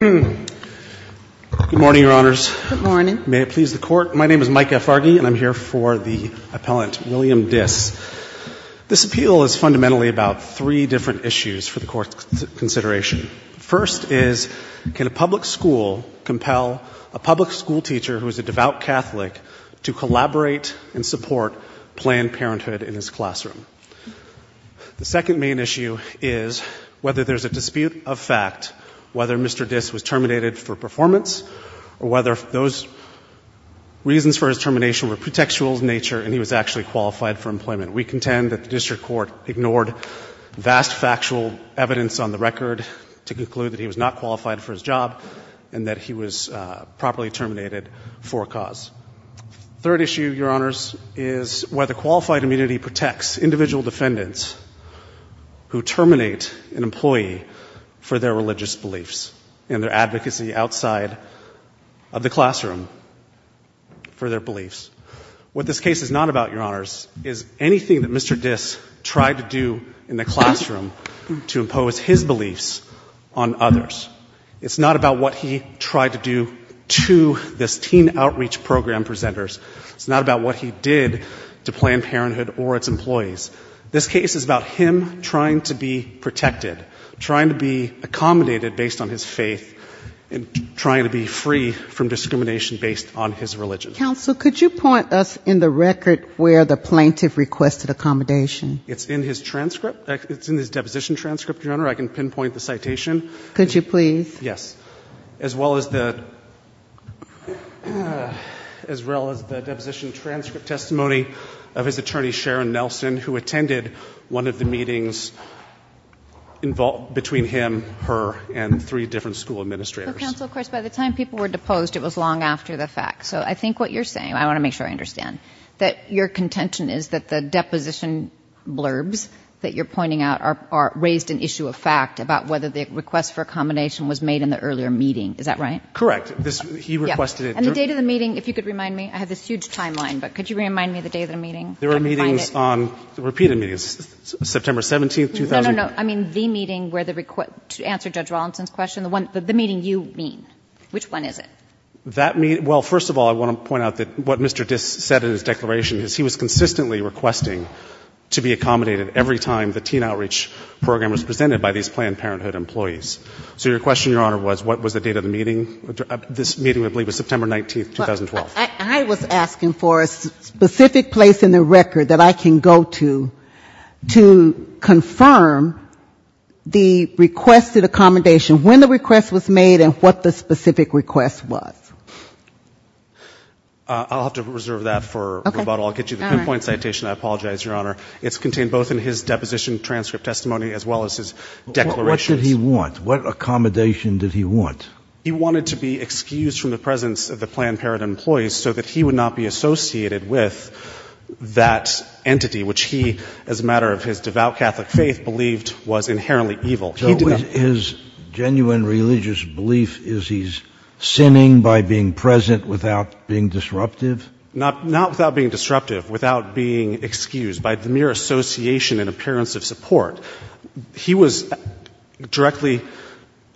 Good morning, Your Honors. May it please the Court, my name is Mike F. Farge and I'm here for the appellant, William Diss. This appeal is fundamentally about three different issues for the Court's consideration. First is, can a public school compel a public school teacher who is a devout Catholic to collaborate and support Planned Parenthood in his classroom? The second main issue is whether there's a dispute of fact whether Mr. Diss was terminated for performance or whether those reasons for his termination were pretextual in nature and he was actually qualified for employment. We contend that the District Court ignored vast factual evidence on the record to conclude that he was not qualified for his job and that he was properly terminated for a cause. Third issue, Your Honors, is whether qualified immunity protects individual defendants who terminate an employee for their religious beliefs and their advocacy outside of the classroom for their beliefs. What this case is not about, Your Honors, is anything that Mr. Diss tried to do in the classroom to impose his beliefs on others. It's not about what he tried to do to this teen outreach program presenters. It's not about what he did to Planned Parenthood or its employees. This case is about him trying to be protected, trying to be accommodated based on his faith and trying to be free from discrimination based on his religion. Counsel, could you point us in the record where the plaintiff requested accommodation? It's in his transcript. It's in his deposition transcript, Your Honor. I can pinpoint the citation. Could you please? Yes. As well as the deposition transcript testimony of his attorney, Sharon Nelson, who attended one of the meetings between him, her, and three different school administrators. Counsel, of course, by the time people were deposed, it was long after the fact. So I think what you're saying, I want to make sure I understand, that your contention is that the deposition blurbs that you're pointing out raised an issue of fact about whether the request for accommodation was made in the earlier meeting. Is that right? Correct. He requested it during the meeting. And the date of the meeting, if you could remind me. I have this huge timeline, but could you remind me of the date of the meeting? There were meetings on, repeated meetings, September 17, 2000. No, no, no. I mean the meeting where the request, to answer Judge Rawlinson's question, the one, the meeting you mean. Which one is it? That meeting, well, first of all, I want to point out that what Mr. Diss said in his declaration is he was consistently requesting to be accommodated every time the teen outreach program was presented by these Planned Parenthood employees. So your question, Your Honor, was what was the date of the meeting? This meeting, I believe, was September 19, 2012. I was asking for a specific place in the record that I can go to to confirm the requested accommodation, when the request was made and what the specific request was. I'll have to reserve that for Roboto. I'll get you the pinpoint citation. I apologize, Your Honor. It's contained both in his deposition transcript testimony as well as his declarations. What did he want? What accommodation did he want? He wanted to be excused from the presence of the Planned Parenthood employees so that he would not be associated with that entity, which he, as a matter of his devout Catholic faith, believed was inherently evil. So his genuine religious belief is he's sinning by being present without being disruptive? Not without being disruptive, without being excused by the mere association and appearance of support. He was directly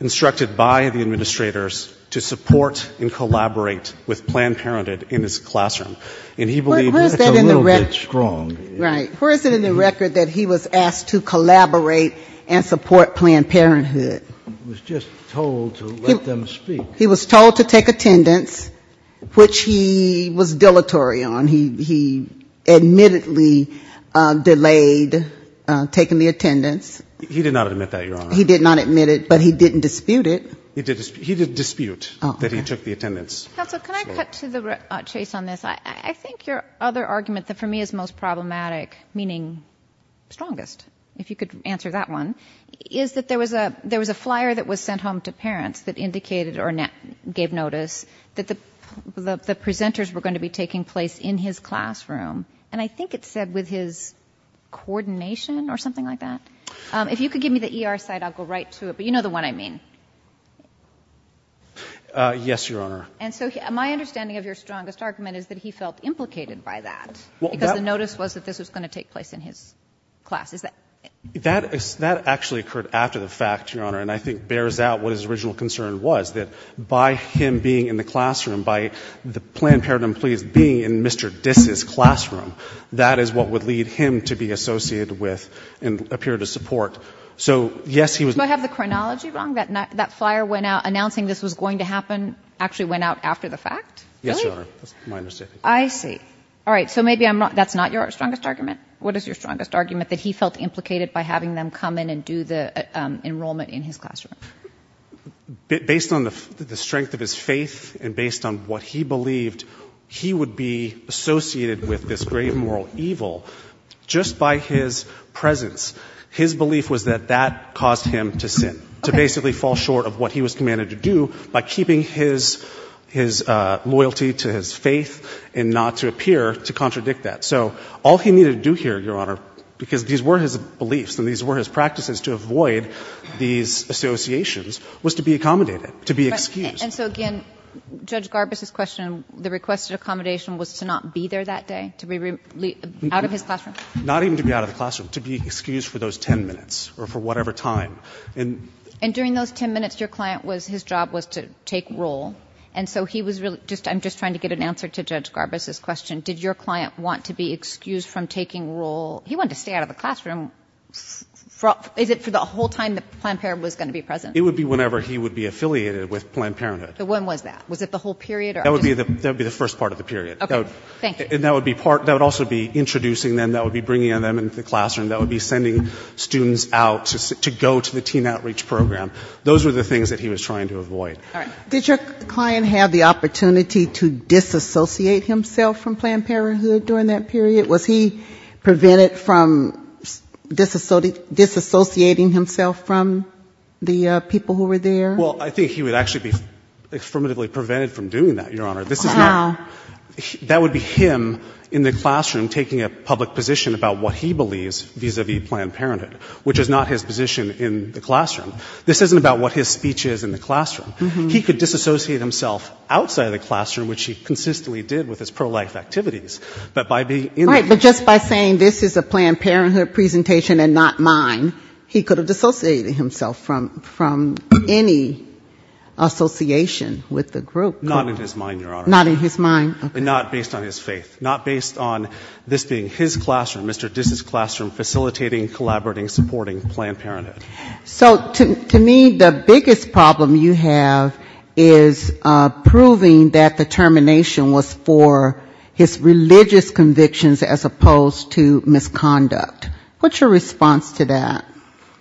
instructed by the administrators to support and collaborate with Planned Parenthood in his classroom. And he believed that's a little bit strong. Where is it in the record that he was asked to collaborate and support Planned Parenthood? He was just told to let them speak. He was told to take attendance, which he was dilatory on. He admittedly delayed taking the attendance. He did not admit that, Your Honor. He did not admit it, but he didn't dispute it. He didn't dispute that he took the attendance. Counsel, can I cut to the chase on this? I think your other argument that for me is most problematic, meaning strongest, if you could answer that one, is that there was a flyer that was sent home to parents that indicated or gave notice that the presenters were going to be taking place in his classroom. And I think it said, with his coordination or something like that. If you could give me the ER site, I'll go right to it. But you know the one I mean. Yes, Your Honor. And so my understanding of your strongest argument is that he felt implicated by that because the notice was that this was going to take place in his class. Is that? That actually occurred after the fact, Your Honor, and I think bears out what his original concern was, that by him being in the classroom, by the Planned Parenthood employees being in Mr. Dis' classroom, that is what would lead him to be associated with and appear to support. So yes, he was Do I have the chronology wrong? That flyer announcing this was going to happen actually went out after the fact? Yes, Your Honor. That's my understanding. I see. All right. So maybe that's not your strongest argument. What is your strongest argument? Was he implicated by having them come in and do the enrollment in his classroom? Based on the strength of his faith and based on what he believed, he would be associated with this great moral evil just by his presence. His belief was that that caused him to sin, to basically fall short of what he was commanded to do by keeping his loyalty to his faith and not to appear to contradict that. So all he needed to do here, Your Honor, because these were his beliefs and these were his practices to avoid these associations, was to be accommodated, to be excused. And so again, Judge Garbus' question, the requested accommodation was to not be there that day, to be out of his classroom? Not even to be out of the classroom, to be excused for those 10 minutes or for whatever time. And during those 10 minutes, your client was, his job was to take roll. And so he was really just, I'm just trying to get an answer to Judge Garbus' question. Did your client want to be excused from taking roll? He wanted to stay out of the classroom. Is it for the whole time that Planned Parenthood was going to be present? It would be whenever he would be affiliated with Planned Parenthood. But when was that? Was it the whole period? That would be the first part of the period. Okay. Thank you. And that would be part, that would also be introducing them, that would be bringing them into the classroom, that would be sending students out to go to the teen outreach program. Those were the things that he was trying to avoid. Did your client have the opportunity to disassociate himself from Planned Parenthood during that period? Was he prevented from disassociating himself from the people who were there? Well, I think he would actually be affirmatively prevented from doing that, Your Honor. Wow. That would be him in the classroom taking a public position about what he believes vis-a-vis Planned Parenthood, which is not his position in the classroom. This isn't about what his position is in the classroom. He could disassociate himself outside of the classroom, which he consistently did with his pro-life activities. But just by saying this is a Planned Parenthood presentation and not mine, he could have dissociated himself from any association with the group. Not in his mind, Your Honor. Not in his mind, okay. And not based on his faith. Not based on this being his classroom, Mr. Dis's classroom, facilitating, collaborating, supporting Planned Parenthood. So to me, the biggest problem you have is proving that the termination was for his religious convictions as opposed to misconduct. What's your response to that?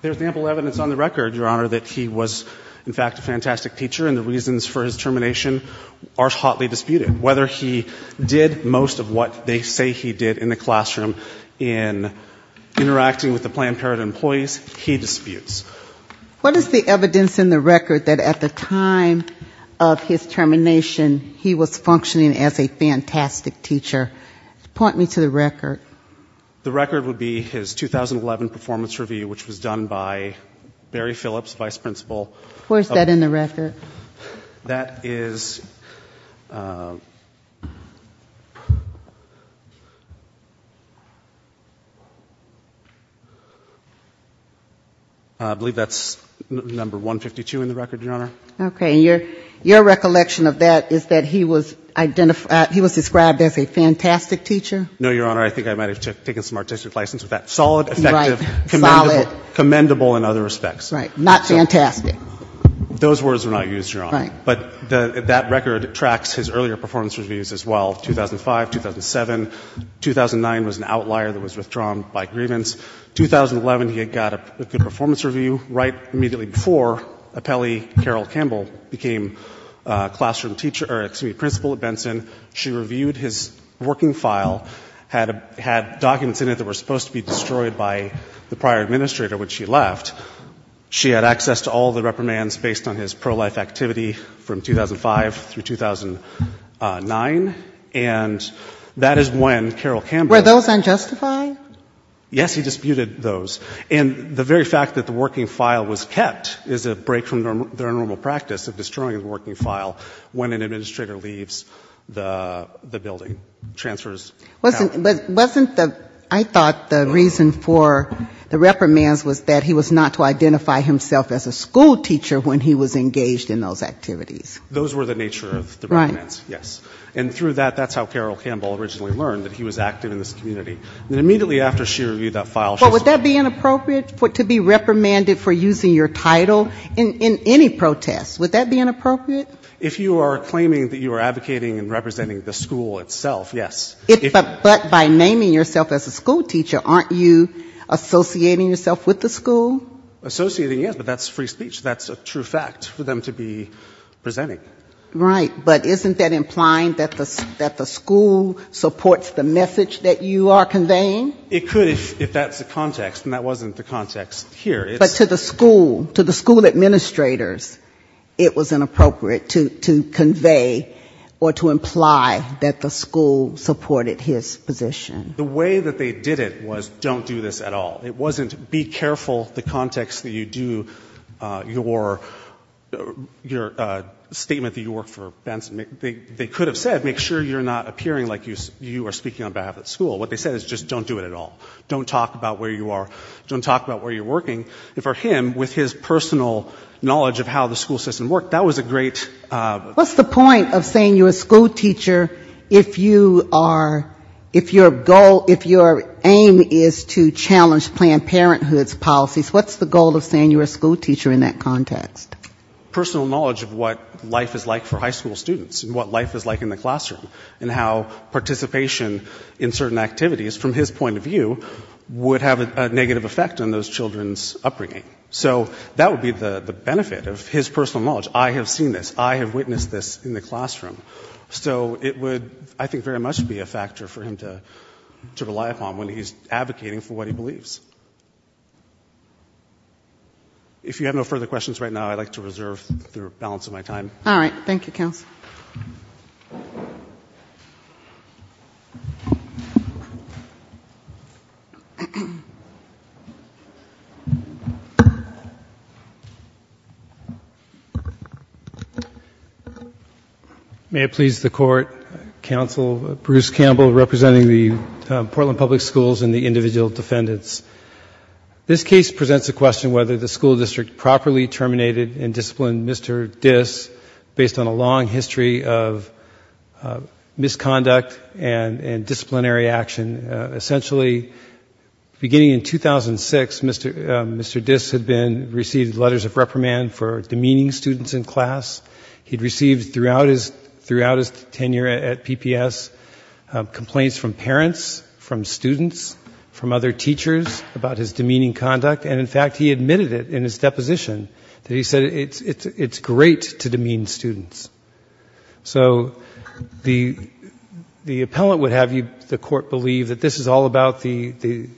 There's ample evidence on the record, Your Honor, that he was, in fact, a fantastic teacher and the reasons for his termination are hotly disputed. Whether he did most of what they say he did in the classroom in interacting with the Planned Parenthood employees, he disputes. What is the evidence in the record that at the time of his termination, he was functioning as a fantastic teacher? Point me to the record. The record would be his 2011 performance review, which was done by Barry Phillips, vice principal. Where's that in the record? That is... I believe that's number 152 in the record, Your Honor. Okay. And your recollection of that is that he was described as a fantastic teacher? No, Your Honor. I think I might have taken some artistic license with that. Solid, effective, commendable in other respects. Right. Not fantastic. Those words were not used, Your Honor. But that record tracks his earlier performance reviews as well, 2005, 2007. 2009 was an outlier that was withdrawn by grievance. 2011, he got a good performance review. Right immediately before, Appellee Carol Campbell became classroom teacher, or excuse me, principal at Benson. She reviewed his working file, had documents in it that were supposed to be destroyed by the prior administrator when she left. She had access to all the reprimands based on his pro-life activity from 2005 through 2009. And that is when Carol Campbell... Were those unjustified? Yes, he disputed those. And the very fact that the working file was kept is a break from their normal practice of destroying a working file when an administrator leaves the building, transfers... Wasn't the... I thought the reason for the reprimands was that he was not to identify himself as a school teacher when he was engaged in those activities. Those were the nature of the reprimands, yes. And through that, that's how Carol Campbell originally learned that he was active in this community. And immediately after she reviewed that file, she... But would that be inappropriate to be reprimanded for using your title in any protest? Would that be inappropriate? If you are claiming that you are advocating and representing the school itself, yes. But by naming yourself as a school teacher, aren't you associating yourself with the school? Associating, yes, but that's free speech. That's a true fact for them to be presenting. Right. But isn't that implying that the school supports the message that you are conveying? It could if that's the context. And that wasn't the context here. But to the school, to the school administrators, it was inappropriate to convey or to imply that the school supported his position. The way that they did it was, don't do this at all. It wasn't, be careful the context that you do your statement that you work for Benson. They could have said, make sure you're not appearing like you are speaking on behalf of the school. What they said is, just don't do it at all. Don't talk about where you are. Don't talk about where you're working. And for him, with his personal knowledge of how the school system worked, that was a great... What's the point of saying you're a school teacher if you are, if your goal, if your aim is to challenge Planned Parenthood's policies? What's the goal of saying you're a school teacher in that context? Personal knowledge of what life is like for high school students and what life is like in the classroom and how participation in certain activities, from his point of view, would have a negative effect on those children's upbringing. So that would be the benefit of his personal knowledge. I have seen this. I have witnessed this in the classroom. So it would, I think, very much be a factor for him to rely upon when he's advocating for what he believes. If you have no further questions right now, I'd like to reserve the balance of my time. All right. Thank you, Counsel. May it please the Court, Counsel Bruce Campbell, representing the Portland Public Schools and the individual defendants. This case presents the question whether the school district properly terminated and disciplined Mr. Dis based on a long history of misconduct and disciplinary action. Essentially, beginning in 2006, Mr. Dis had been, received letters of reprimand for demeaning students in class. He'd received throughout his tenure at PPS complaints from parents, from students, from other teachers about his demeaning conduct. And, in fact, he admitted it in his deposition that he said it's great to demean students. So the appellant would have the Court believe that this is all about the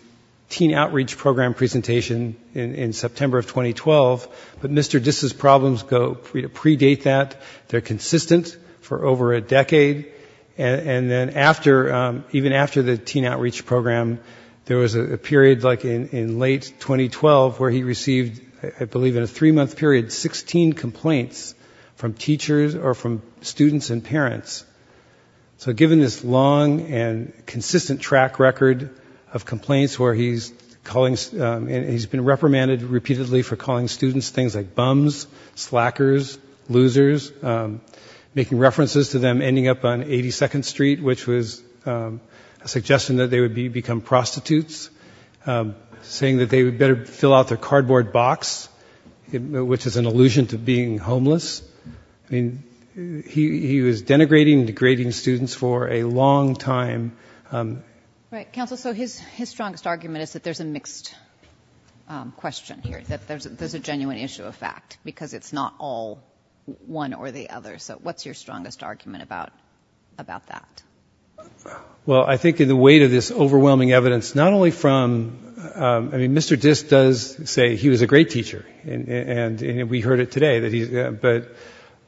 teen outreach program presentation in September of 2012. But Mr. Dis's problems predate that. They're consistent for over a decade. And then after, even after the teen outreach program, there was a period like in late 2012 where he received, I believe in a three-month period, 16 complaints from teachers or from students and parents. So given this long and consistent track record of complaints where he's calling, and he's been reprimanded repeatedly for calling students things like bums, slackers, losers, making references to them ending up on 82nd Street, which was a suggestion that they would become prostitutes, saying that they would better fill out their cardboard box, which is an allusion to being homeless. I mean, he was denigrating and degrading students for a long time. Right. Counsel, so his strongest argument is that there's a mixed question here, that there's a genuine issue of fact, because it's not all one or the other. So what's your strongest argument about that? Well, I think in the weight of this overwhelming evidence, not only from, I mean, Mr. Dis does say he was a great teacher, and we heard it today, but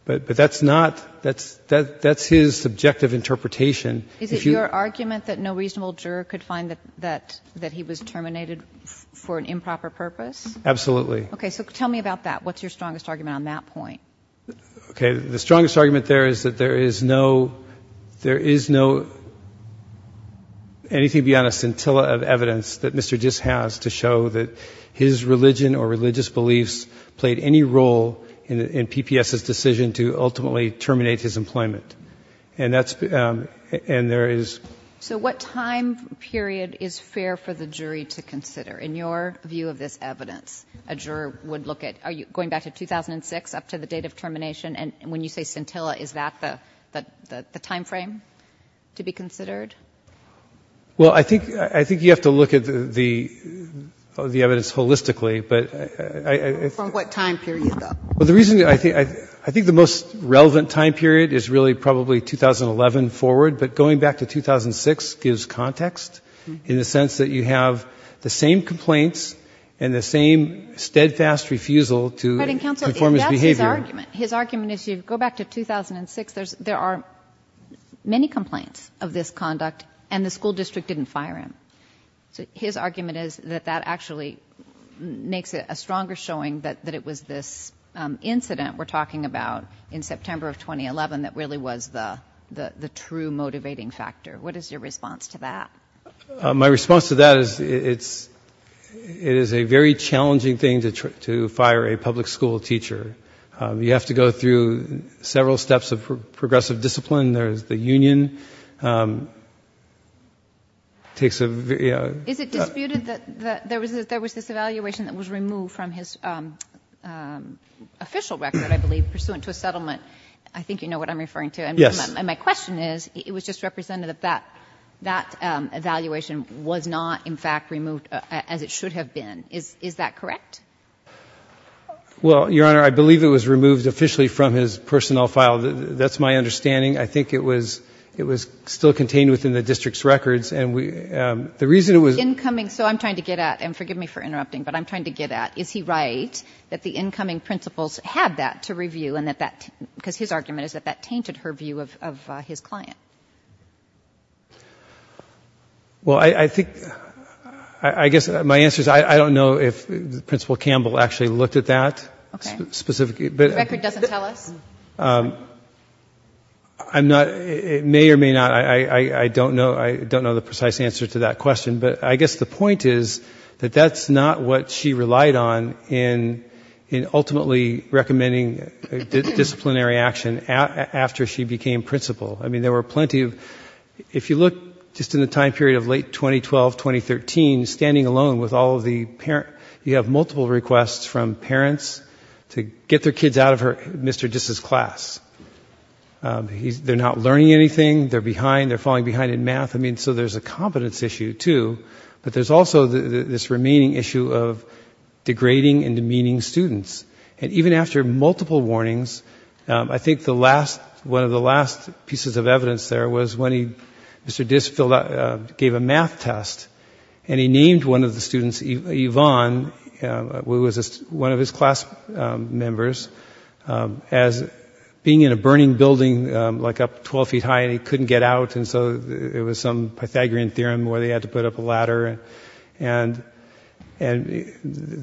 that's not, that's his subjective interpretation. Is it your argument that no reasonable juror could find that he was terminated for an improper purpose? Absolutely. Okay. So tell me about that. What's your strongest argument on that point? Okay. The strongest argument there is that there is no, there is no, anything beyond a scintilla of evidence that Mr. Dis has to show that his religion or religious beliefs played any role in PPS's decision to ultimately terminate his employment. And that's, and there is So what time period is fair for the jury to consider? In your view of this evidence, a date of termination. And when you say scintilla, is that the, the, the timeframe to be considered? Well, I think, I think you have to look at the, the, the evidence holistically, but From what time period though? Well, the reason I think, I think the most relevant time period is really probably 2011 forward, but going back to 2006 gives context in the sense that you have the same complaints and the same steadfast refusal to conform his behavior. His argument is you go back to 2006, there's, there are many complaints of this conduct and the school district didn't fire him. So his argument is that that actually makes it a stronger showing that, that it was this incident we're talking about in September of 2011, that really was the, the, the true motivating factor. What is your response to that? My response to that is, it's, it is a very challenging thing to, to fire a public school teacher. You have to go through several steps of progressive discipline. There's the union, takes a very Is it disputed that there was, that there was this evaluation that was removed from his official record, I believe, pursuant to a settlement. I think you know what I'm referring to. Yes. And my question is, it was just representative that, that evaluation was not in fact removed as it should have been. Is, is that correct? Well, Your Honor, I believe it was removed officially from his personnel file. That's my understanding. I think it was, it was still contained within the district's records and we, the reason it was Incoming, so I'm trying to get at, and forgive me for interrupting, but I'm trying to get at, is he right that the incoming principals had that to review and that that, because his argument is that that tainted her view of, of his client? Well, I, I think, I, I guess my answer is I, I don't know if Principal Campbell actually looked at that Okay. Specifically, but The record doesn't tell us? I'm not, it may or may not, I, I, I don't know, I don't know the precise answer to that question, but I guess the point is that that's not what she relied on in, in ultimately recommending disciplinary action after she became principal. I mean, there were plenty of, if you look just in the time period of late 2012, 2013, standing alone with all of the parent, you have multiple requests from parents to get their kids out of her, Mr. Dis' class. He's, they're not learning anything, they're behind, they're falling behind in math, I mean, so there's a competence issue, too, but there's also this remaining issue of degrading and demeaning students. And even after multiple warnings, I think the last, one of the last pieces of evidence there was when he, Mr. Dis filled out, gave a math test, and he named one of the students, Yvonne, who was one of his class members, as being in a burning building, like up 12 feet high, and he couldn't get out, and so it was some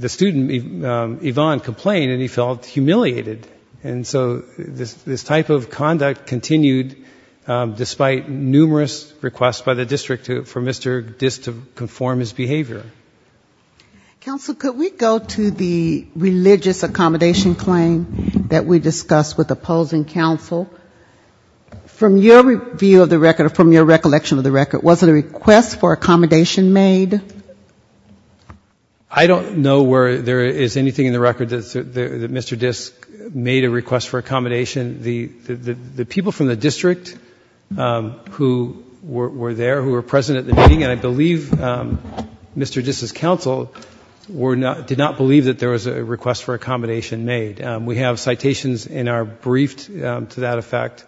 student, Yvonne, complained, and he felt humiliated. And so this type of conduct continued, despite numerous requests by the district for Mr. Dis to conform his behavior. Counsel, could we go to the religious accommodation claim that we discussed with opposing counsel? From your view of the record, or from your recollection of the record, was it a request for accommodation made? I don't know where there is anything in the record that Mr. Dis made a request for accommodation. The people from the district who were there, who were present at the meeting, and I believe Mr. Dis' counsel, did not believe that there was a request for accommodation made. We have citations in our brief to that effect.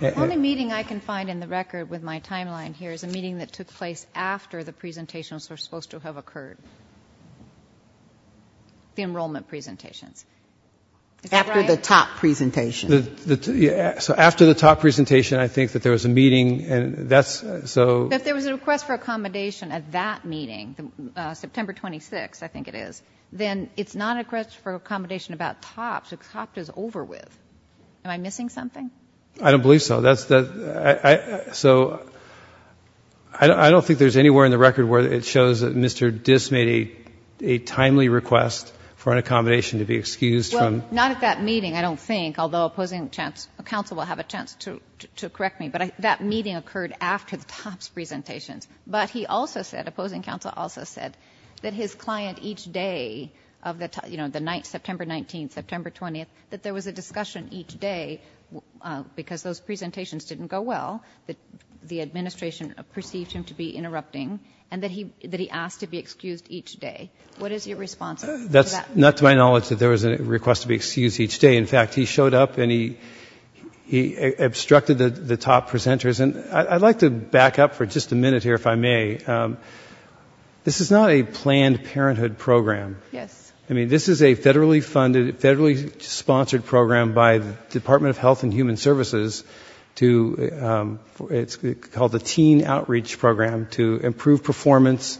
The only meeting I can find in the record with my timeline here is a meeting that took place after the presentations were supposed to have occurred. The enrollment presentations. After the top presentation. So after the top presentation, I think that there was a meeting, and that's, so... If there was a request for accommodation at that meeting, September 26, I think it is, then it's not a request for accommodation about tops, the top is over with. Am I missing something? I don't believe so. So, I don't think there is anywhere in the record where it shows that Mr. Dis made a timely request for an accommodation to be excused from... Not at that meeting, I don't think, although opposing counsel will have a chance to correct me, but that meeting occurred after the tops presentations. But he also said, opposing counsel also said, that his client each day of the night, September 19, September 20, that there was a discussion each day, because those presentations didn't go well, that the administration perceived him to be interrupting, and that he asked to be excused each day. What is your response to that? Not to my knowledge that there was a request to be excused each day. In fact, he showed up and he obstructed the top presenters. And I'd like to back up for just a minute here, if I may. This is not a planned parenthood program. Yes. I mean, this is a federally funded, federally sponsored program by the Department of Health and Human Services to, it's called the Teen Outreach Program, to improve performance...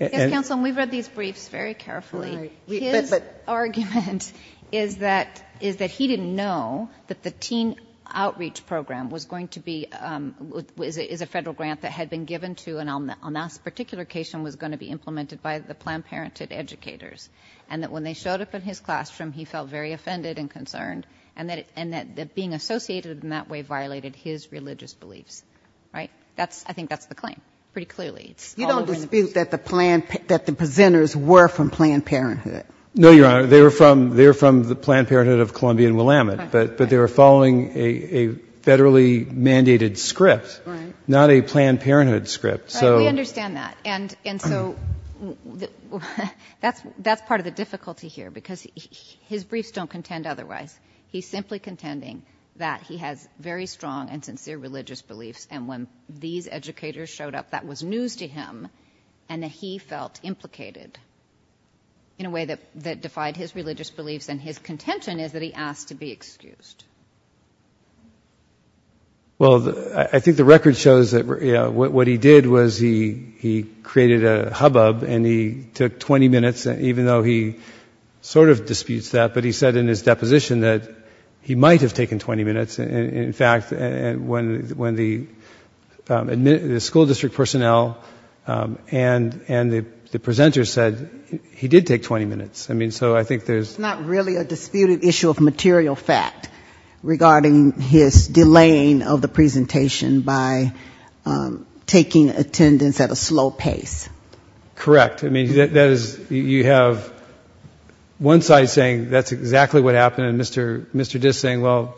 Yes, counsel, and we've read these briefs very carefully. His argument is that he didn't know that the Teen Outreach Program was going to be, is a federal grant that had been given to, and on that particular occasion was going to be implemented by the Planned Parenthood educators, and that when they showed up in his classroom, he felt very offended and concerned, and that being associated in that way violated his religious beliefs. Right? I think that's the claim, pretty clearly. You don't dispute that the presenters were from Planned Parenthood? No, Your Honor. They were from the Planned Parenthood of Columbia and Willamette, but they were following a federally mandated script, not a Planned Parenthood script. Right, we understand that, and so that's part of the difficulty here, because his briefs don't contend otherwise. He's simply contending that he has very strong and sincere religious beliefs, and when these educators showed up, that was news to him, and that he felt implicated in a way that defied his religious beliefs, and his contention is that he asked to be excused. Well, I think the record shows that what he did was he created a hubbub, and he took 20 minutes, even though he sort of disputes that, but he said in his deposition that he might have taken 20 minutes. In fact, when the school district personnel and the presenters said, he did take 20 minutes. It's not really a disputed issue of material fact regarding his delaying of the presentation by taking attendance at a slow pace. Correct. I mean, you have one side saying that's exactly what happened, and Mr. Diss saying, well,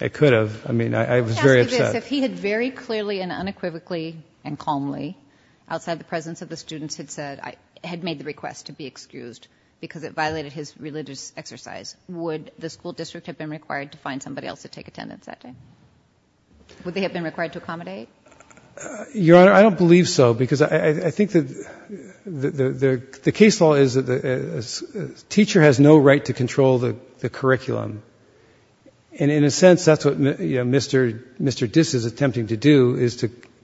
it could have. I mean, I was very upset. Let me ask you this. If he had very clearly and unequivocally and calmly, outside the presence of the students, had said, had made the request to be excused because it violated his religious exercise, would the school district have been required to find somebody else to take attendance that day? Would they have been required to accommodate? Your Honor, I don't believe so, because I think that the case law is that a teacher has no right to control the curriculum, and in a sense, that's what Mr. Diss is attempting to do, is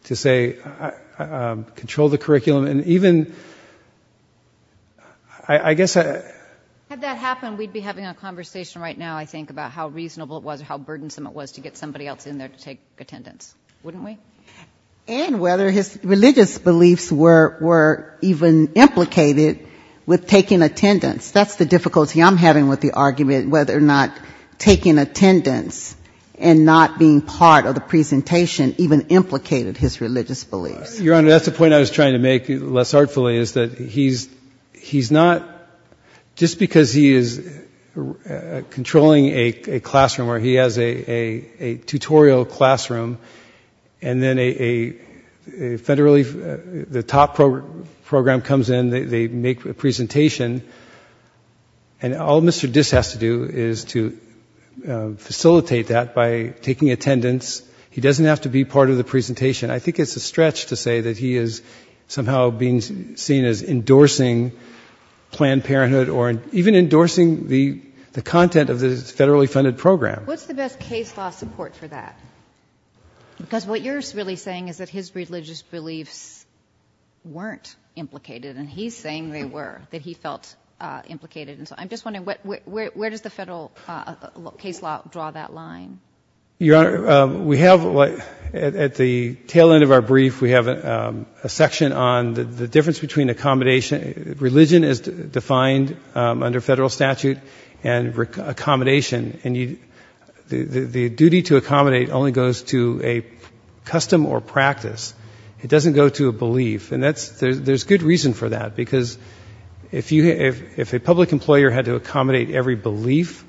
to say, control the curriculum, and even, I guess... Had that happened, we'd be having a conversation right now, I think, about how reasonable it was, how burdensome it was to get somebody else in there to take attendance, wouldn't we? And whether his religious beliefs were even implicated with taking attendance. That's the difficulty I'm having with the argument, whether or not taking attendance and not being part of the presentation even implicated his religious beliefs. Your Honor, that's the point I was trying to make, less artfully, is that he's not... Just because he is controlling a classroom, or he has a tutorial classroom, and then a federally... The top program comes in, they make a presentation, and all Mr. Diss has to do is to facilitate that by taking attendance. He doesn't have to be part of the presentation. I think it's a stretch to say that he is somehow being seen as endorsing Planned Parenthood, or even endorsing the content of the federally funded program. What's the best case law support for that? Because what you're really saying is that his religious beliefs weren't implicated, and he's saying they were, that he felt implicated. I'm just wondering, where does the federal case law draw that line? Your Honor, we have, at the tail end of our brief, we have a section on the difference between accommodation... Religion is defined under federal statute, and accommodation. The duty to accommodate only goes to a custom or practice. It doesn't go to a belief. There's good reason for that, because if a public employer had to accommodate every belief,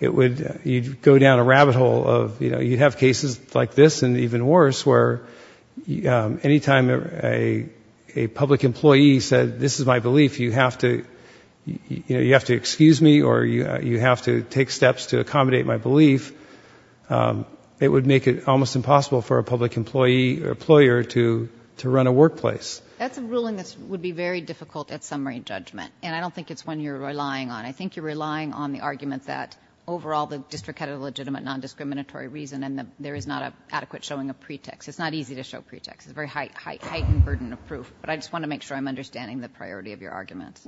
you'd go down a rabbit hole of... You'd have cases like this, and even worse, where any time a public employee said, this is my belief, you have to excuse me, or you have to take steps to accommodate my belief. It would make it almost impossible for a public employer to run a workplace. That's a ruling that would be very difficult at summary judgment, and I don't think it's one you're relying on. I think you're relying on the argument that, overall, the district had a legitimate non-discriminatory reason, and there is not an adequate showing of pretext. It's not easy to show pretext. It's a very heightened burden of proof, but I just want to make sure I'm understanding the priority of your argument.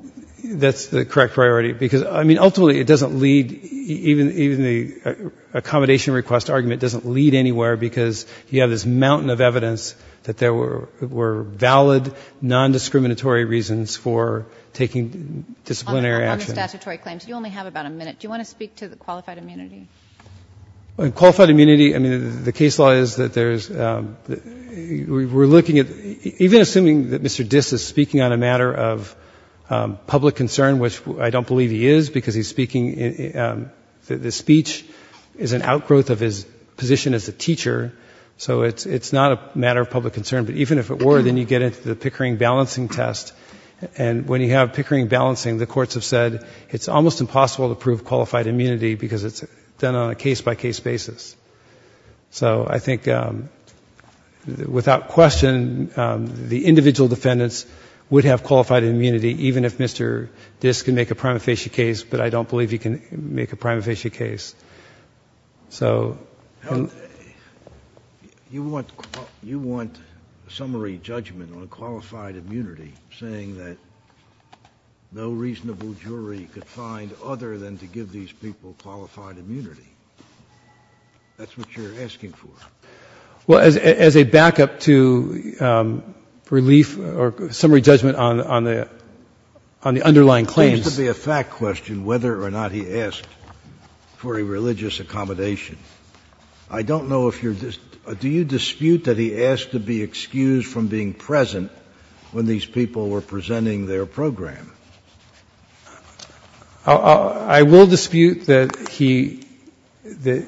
That's the correct priority, because ultimately it doesn't lead, even the accommodation request argument doesn't lead anywhere, because you have this mountain of evidence that there were valid non-discriminatory reasons for taking disciplinary action. On the statutory claims, you only have about a minute. Do you want to speak to the qualified immunity? Qualified immunity, I mean, the case law is that there's, we're looking at, even assuming that Mr. Diss is speaking on a matter of public concern, which I don't believe he is, because he's speaking, the speech is an outgrowth of his position as a teacher, so it's not a matter of public concern, but even if it were, then you get into the Pickering balancing test, and when you have Pickering balancing, the courts have said it's almost impossible to prove qualified immunity, because it's done on a case-by-case basis. So I think, without question, the individual defendants would have qualified immunity, even if Mr. Diss could make a prima facie case, but I don't believe he can make a prima facie case. So you want summary judgment on qualified immunity, saying that no reasonable jury could find other than to give these people qualified immunity? That's what you're asking for? Well, as a backup to relief or summary judgment on the underlying claims. There seems to be a fact question, whether or not he asked for a religious accommodation. I don't know if you're, do you dispute that he asked to be excused from being present when these people were presenting their program? I will dispute that he, the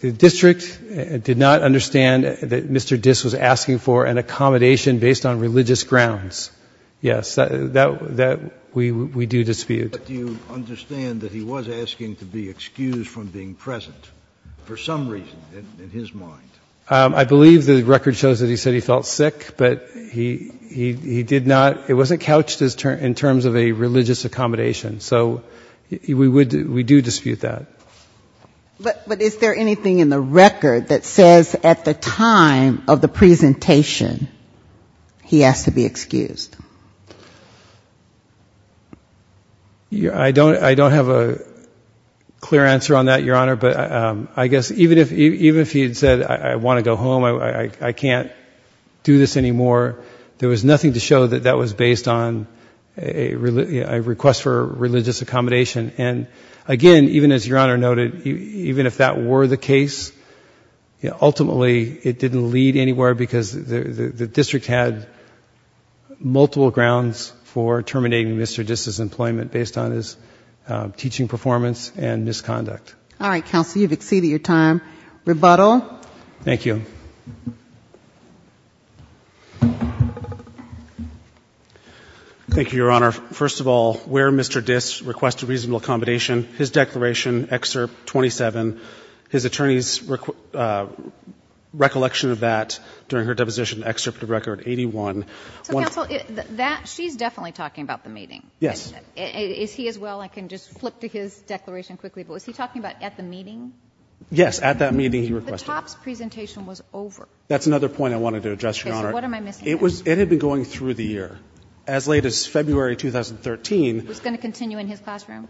district did not understand that Mr. Diss was asking for an accommodation based on religious grounds. Yes, that we do dispute. But do you understand that he was asking to be excused from being present, for some reason, in his mind? I believe the record shows that he said he felt sick, but he did not, it wasn't couched in terms of a religious accommodation. So we do dispute that. But is there anything in the record that says at the time of the presentation he asked to be excused? I don't have a clear answer on that, Your Honor, but I guess even if he had said I want to go home, I can't do this anymore, there was nothing to show that that was based on a request for religious accommodation. And again, even as Your Honor noted, even if that were the case, ultimately it didn't lead anywhere because the district had multiple grounds for terminating Mr. Diss's employment based on his teaching performance and misconduct. All right, Counsel, you've exceeded your time. Rebuttal? Thank you. Thank you, Your Honor. First of all, where Mr. Diss requested reasonable accommodation, his declaration, Excerpt 27, his attorney's recollection of that during her deposition, Excerpt of Record 81. So, Counsel, that, she's definitely talking about the meeting. Yes. Is he as well? I can just flip to his declaration quickly. But was he talking about at the meeting? Yes, at that meeting he requested. But the TOPS presentation was over. That's another point I wanted to address, Your Honor. Okay. So what am I missing here? It had been going through the year. As late as February 2013. It was going to continue in his classroom?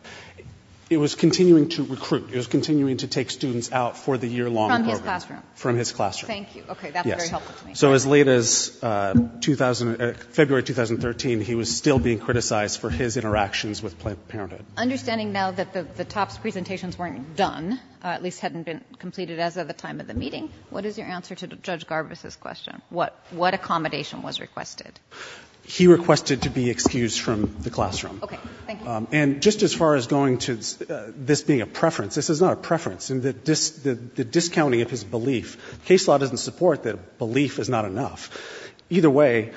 It was continuing to recruit. It was continuing to take students out for the year-long program. From his classroom? From his classroom. Thank you. Okay. That's very helpful to me. So as late as February 2013, he was still being criticized for his interactions with Planned Parenthood. Understanding now that the TOPS presentations weren't done, at least hadn't been completed as of the time of the meeting, what is your answer to Judge Garvis' question? What accommodation was requested? He requested to be excused from the classroom. Okay. Thank you. And just as far as going to this being a preference, this is not a preference. The discounting of his belief, case law doesn't support that belief is not enough. Either way,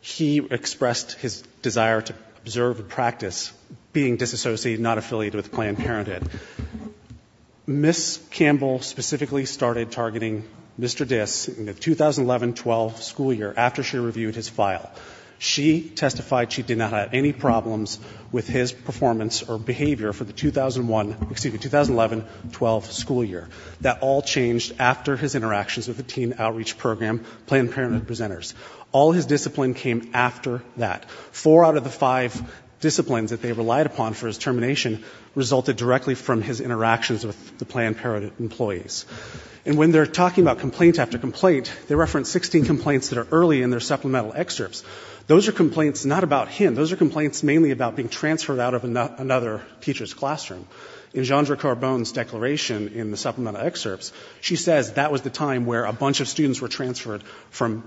he expressed his desire to observe and practice being disassociated, not affiliated with Planned Parenthood. Ms. Campbell specifically started targeting Mr. Dis in the 2011-12 school year after she reviewed his file. She testified she did not have any problems with his performance or behavior for the 2001, excuse me, 2011-12 school year. That all changed after his interactions with the teen outreach program Planned Parenthood presenters. All his discipline came after that. Four out of the five disciplines that they relied upon for his termination resulted directly from his interactions with the Planned Parenthood employees. And when they're talking about complaint after complaint, they reference 16 complaints that are early in their supplemental excerpts. Those are complaints not about him. Those are complaints mainly about being transferred out of another teacher's classroom. In Jeandre Carbone's declaration in the supplemental excerpts, she says that was the time where a bunch of students were transferred from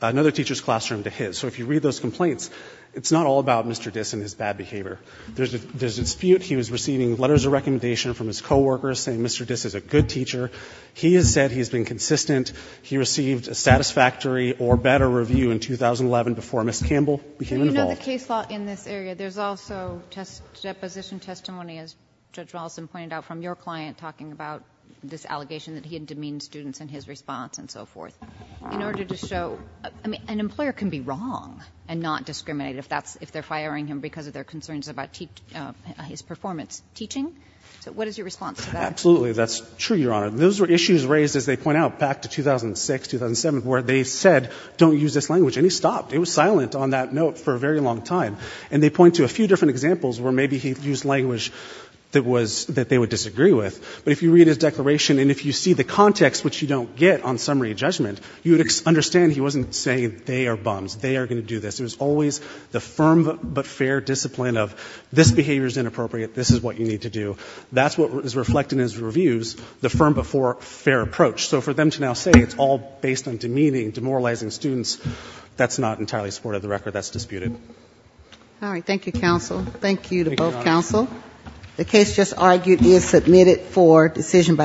another teacher's classroom to his. So if you read those complaints, it's not all about Mr. Dis and his bad behavior. There's a dispute. He was receiving letters of recommendation from his coworkers saying Mr. Dis is a good teacher. He has said he's been consistent. He received a satisfactory or better review in 2011 before Ms. Campbell became involved. But you know the case law in this area. There's also deposition testimony, as Judge Wallace pointed out, from your client talking about this allegation that he had demeaned students in his response and so forth. In order to show an employer can be wrong and not discriminate if that's they're concerns about his performance teaching. So what is your response to that? Absolutely. That's true, Your Honor. Those were issues raised, as they point out, back to 2006, 2007, where they said don't use this language. And he stopped. It was silent on that note for a very long time. And they point to a few different examples where maybe he used language that they would disagree with. But if you read his declaration and if you see the context, which you don't get on summary judgment, you would understand he wasn't saying they are bums. They are going to do this. It was always the firm but fair discipline of this behavior is inappropriate. This is what you need to do. That's what is reflected in his reviews, the firm but fair approach. So for them to now say it's all based on demeaning, demoralizing students, that's not entirely supportive of the record. That's disputed. All right. Thank you, counsel. The case just argued is submitted for decision by the court.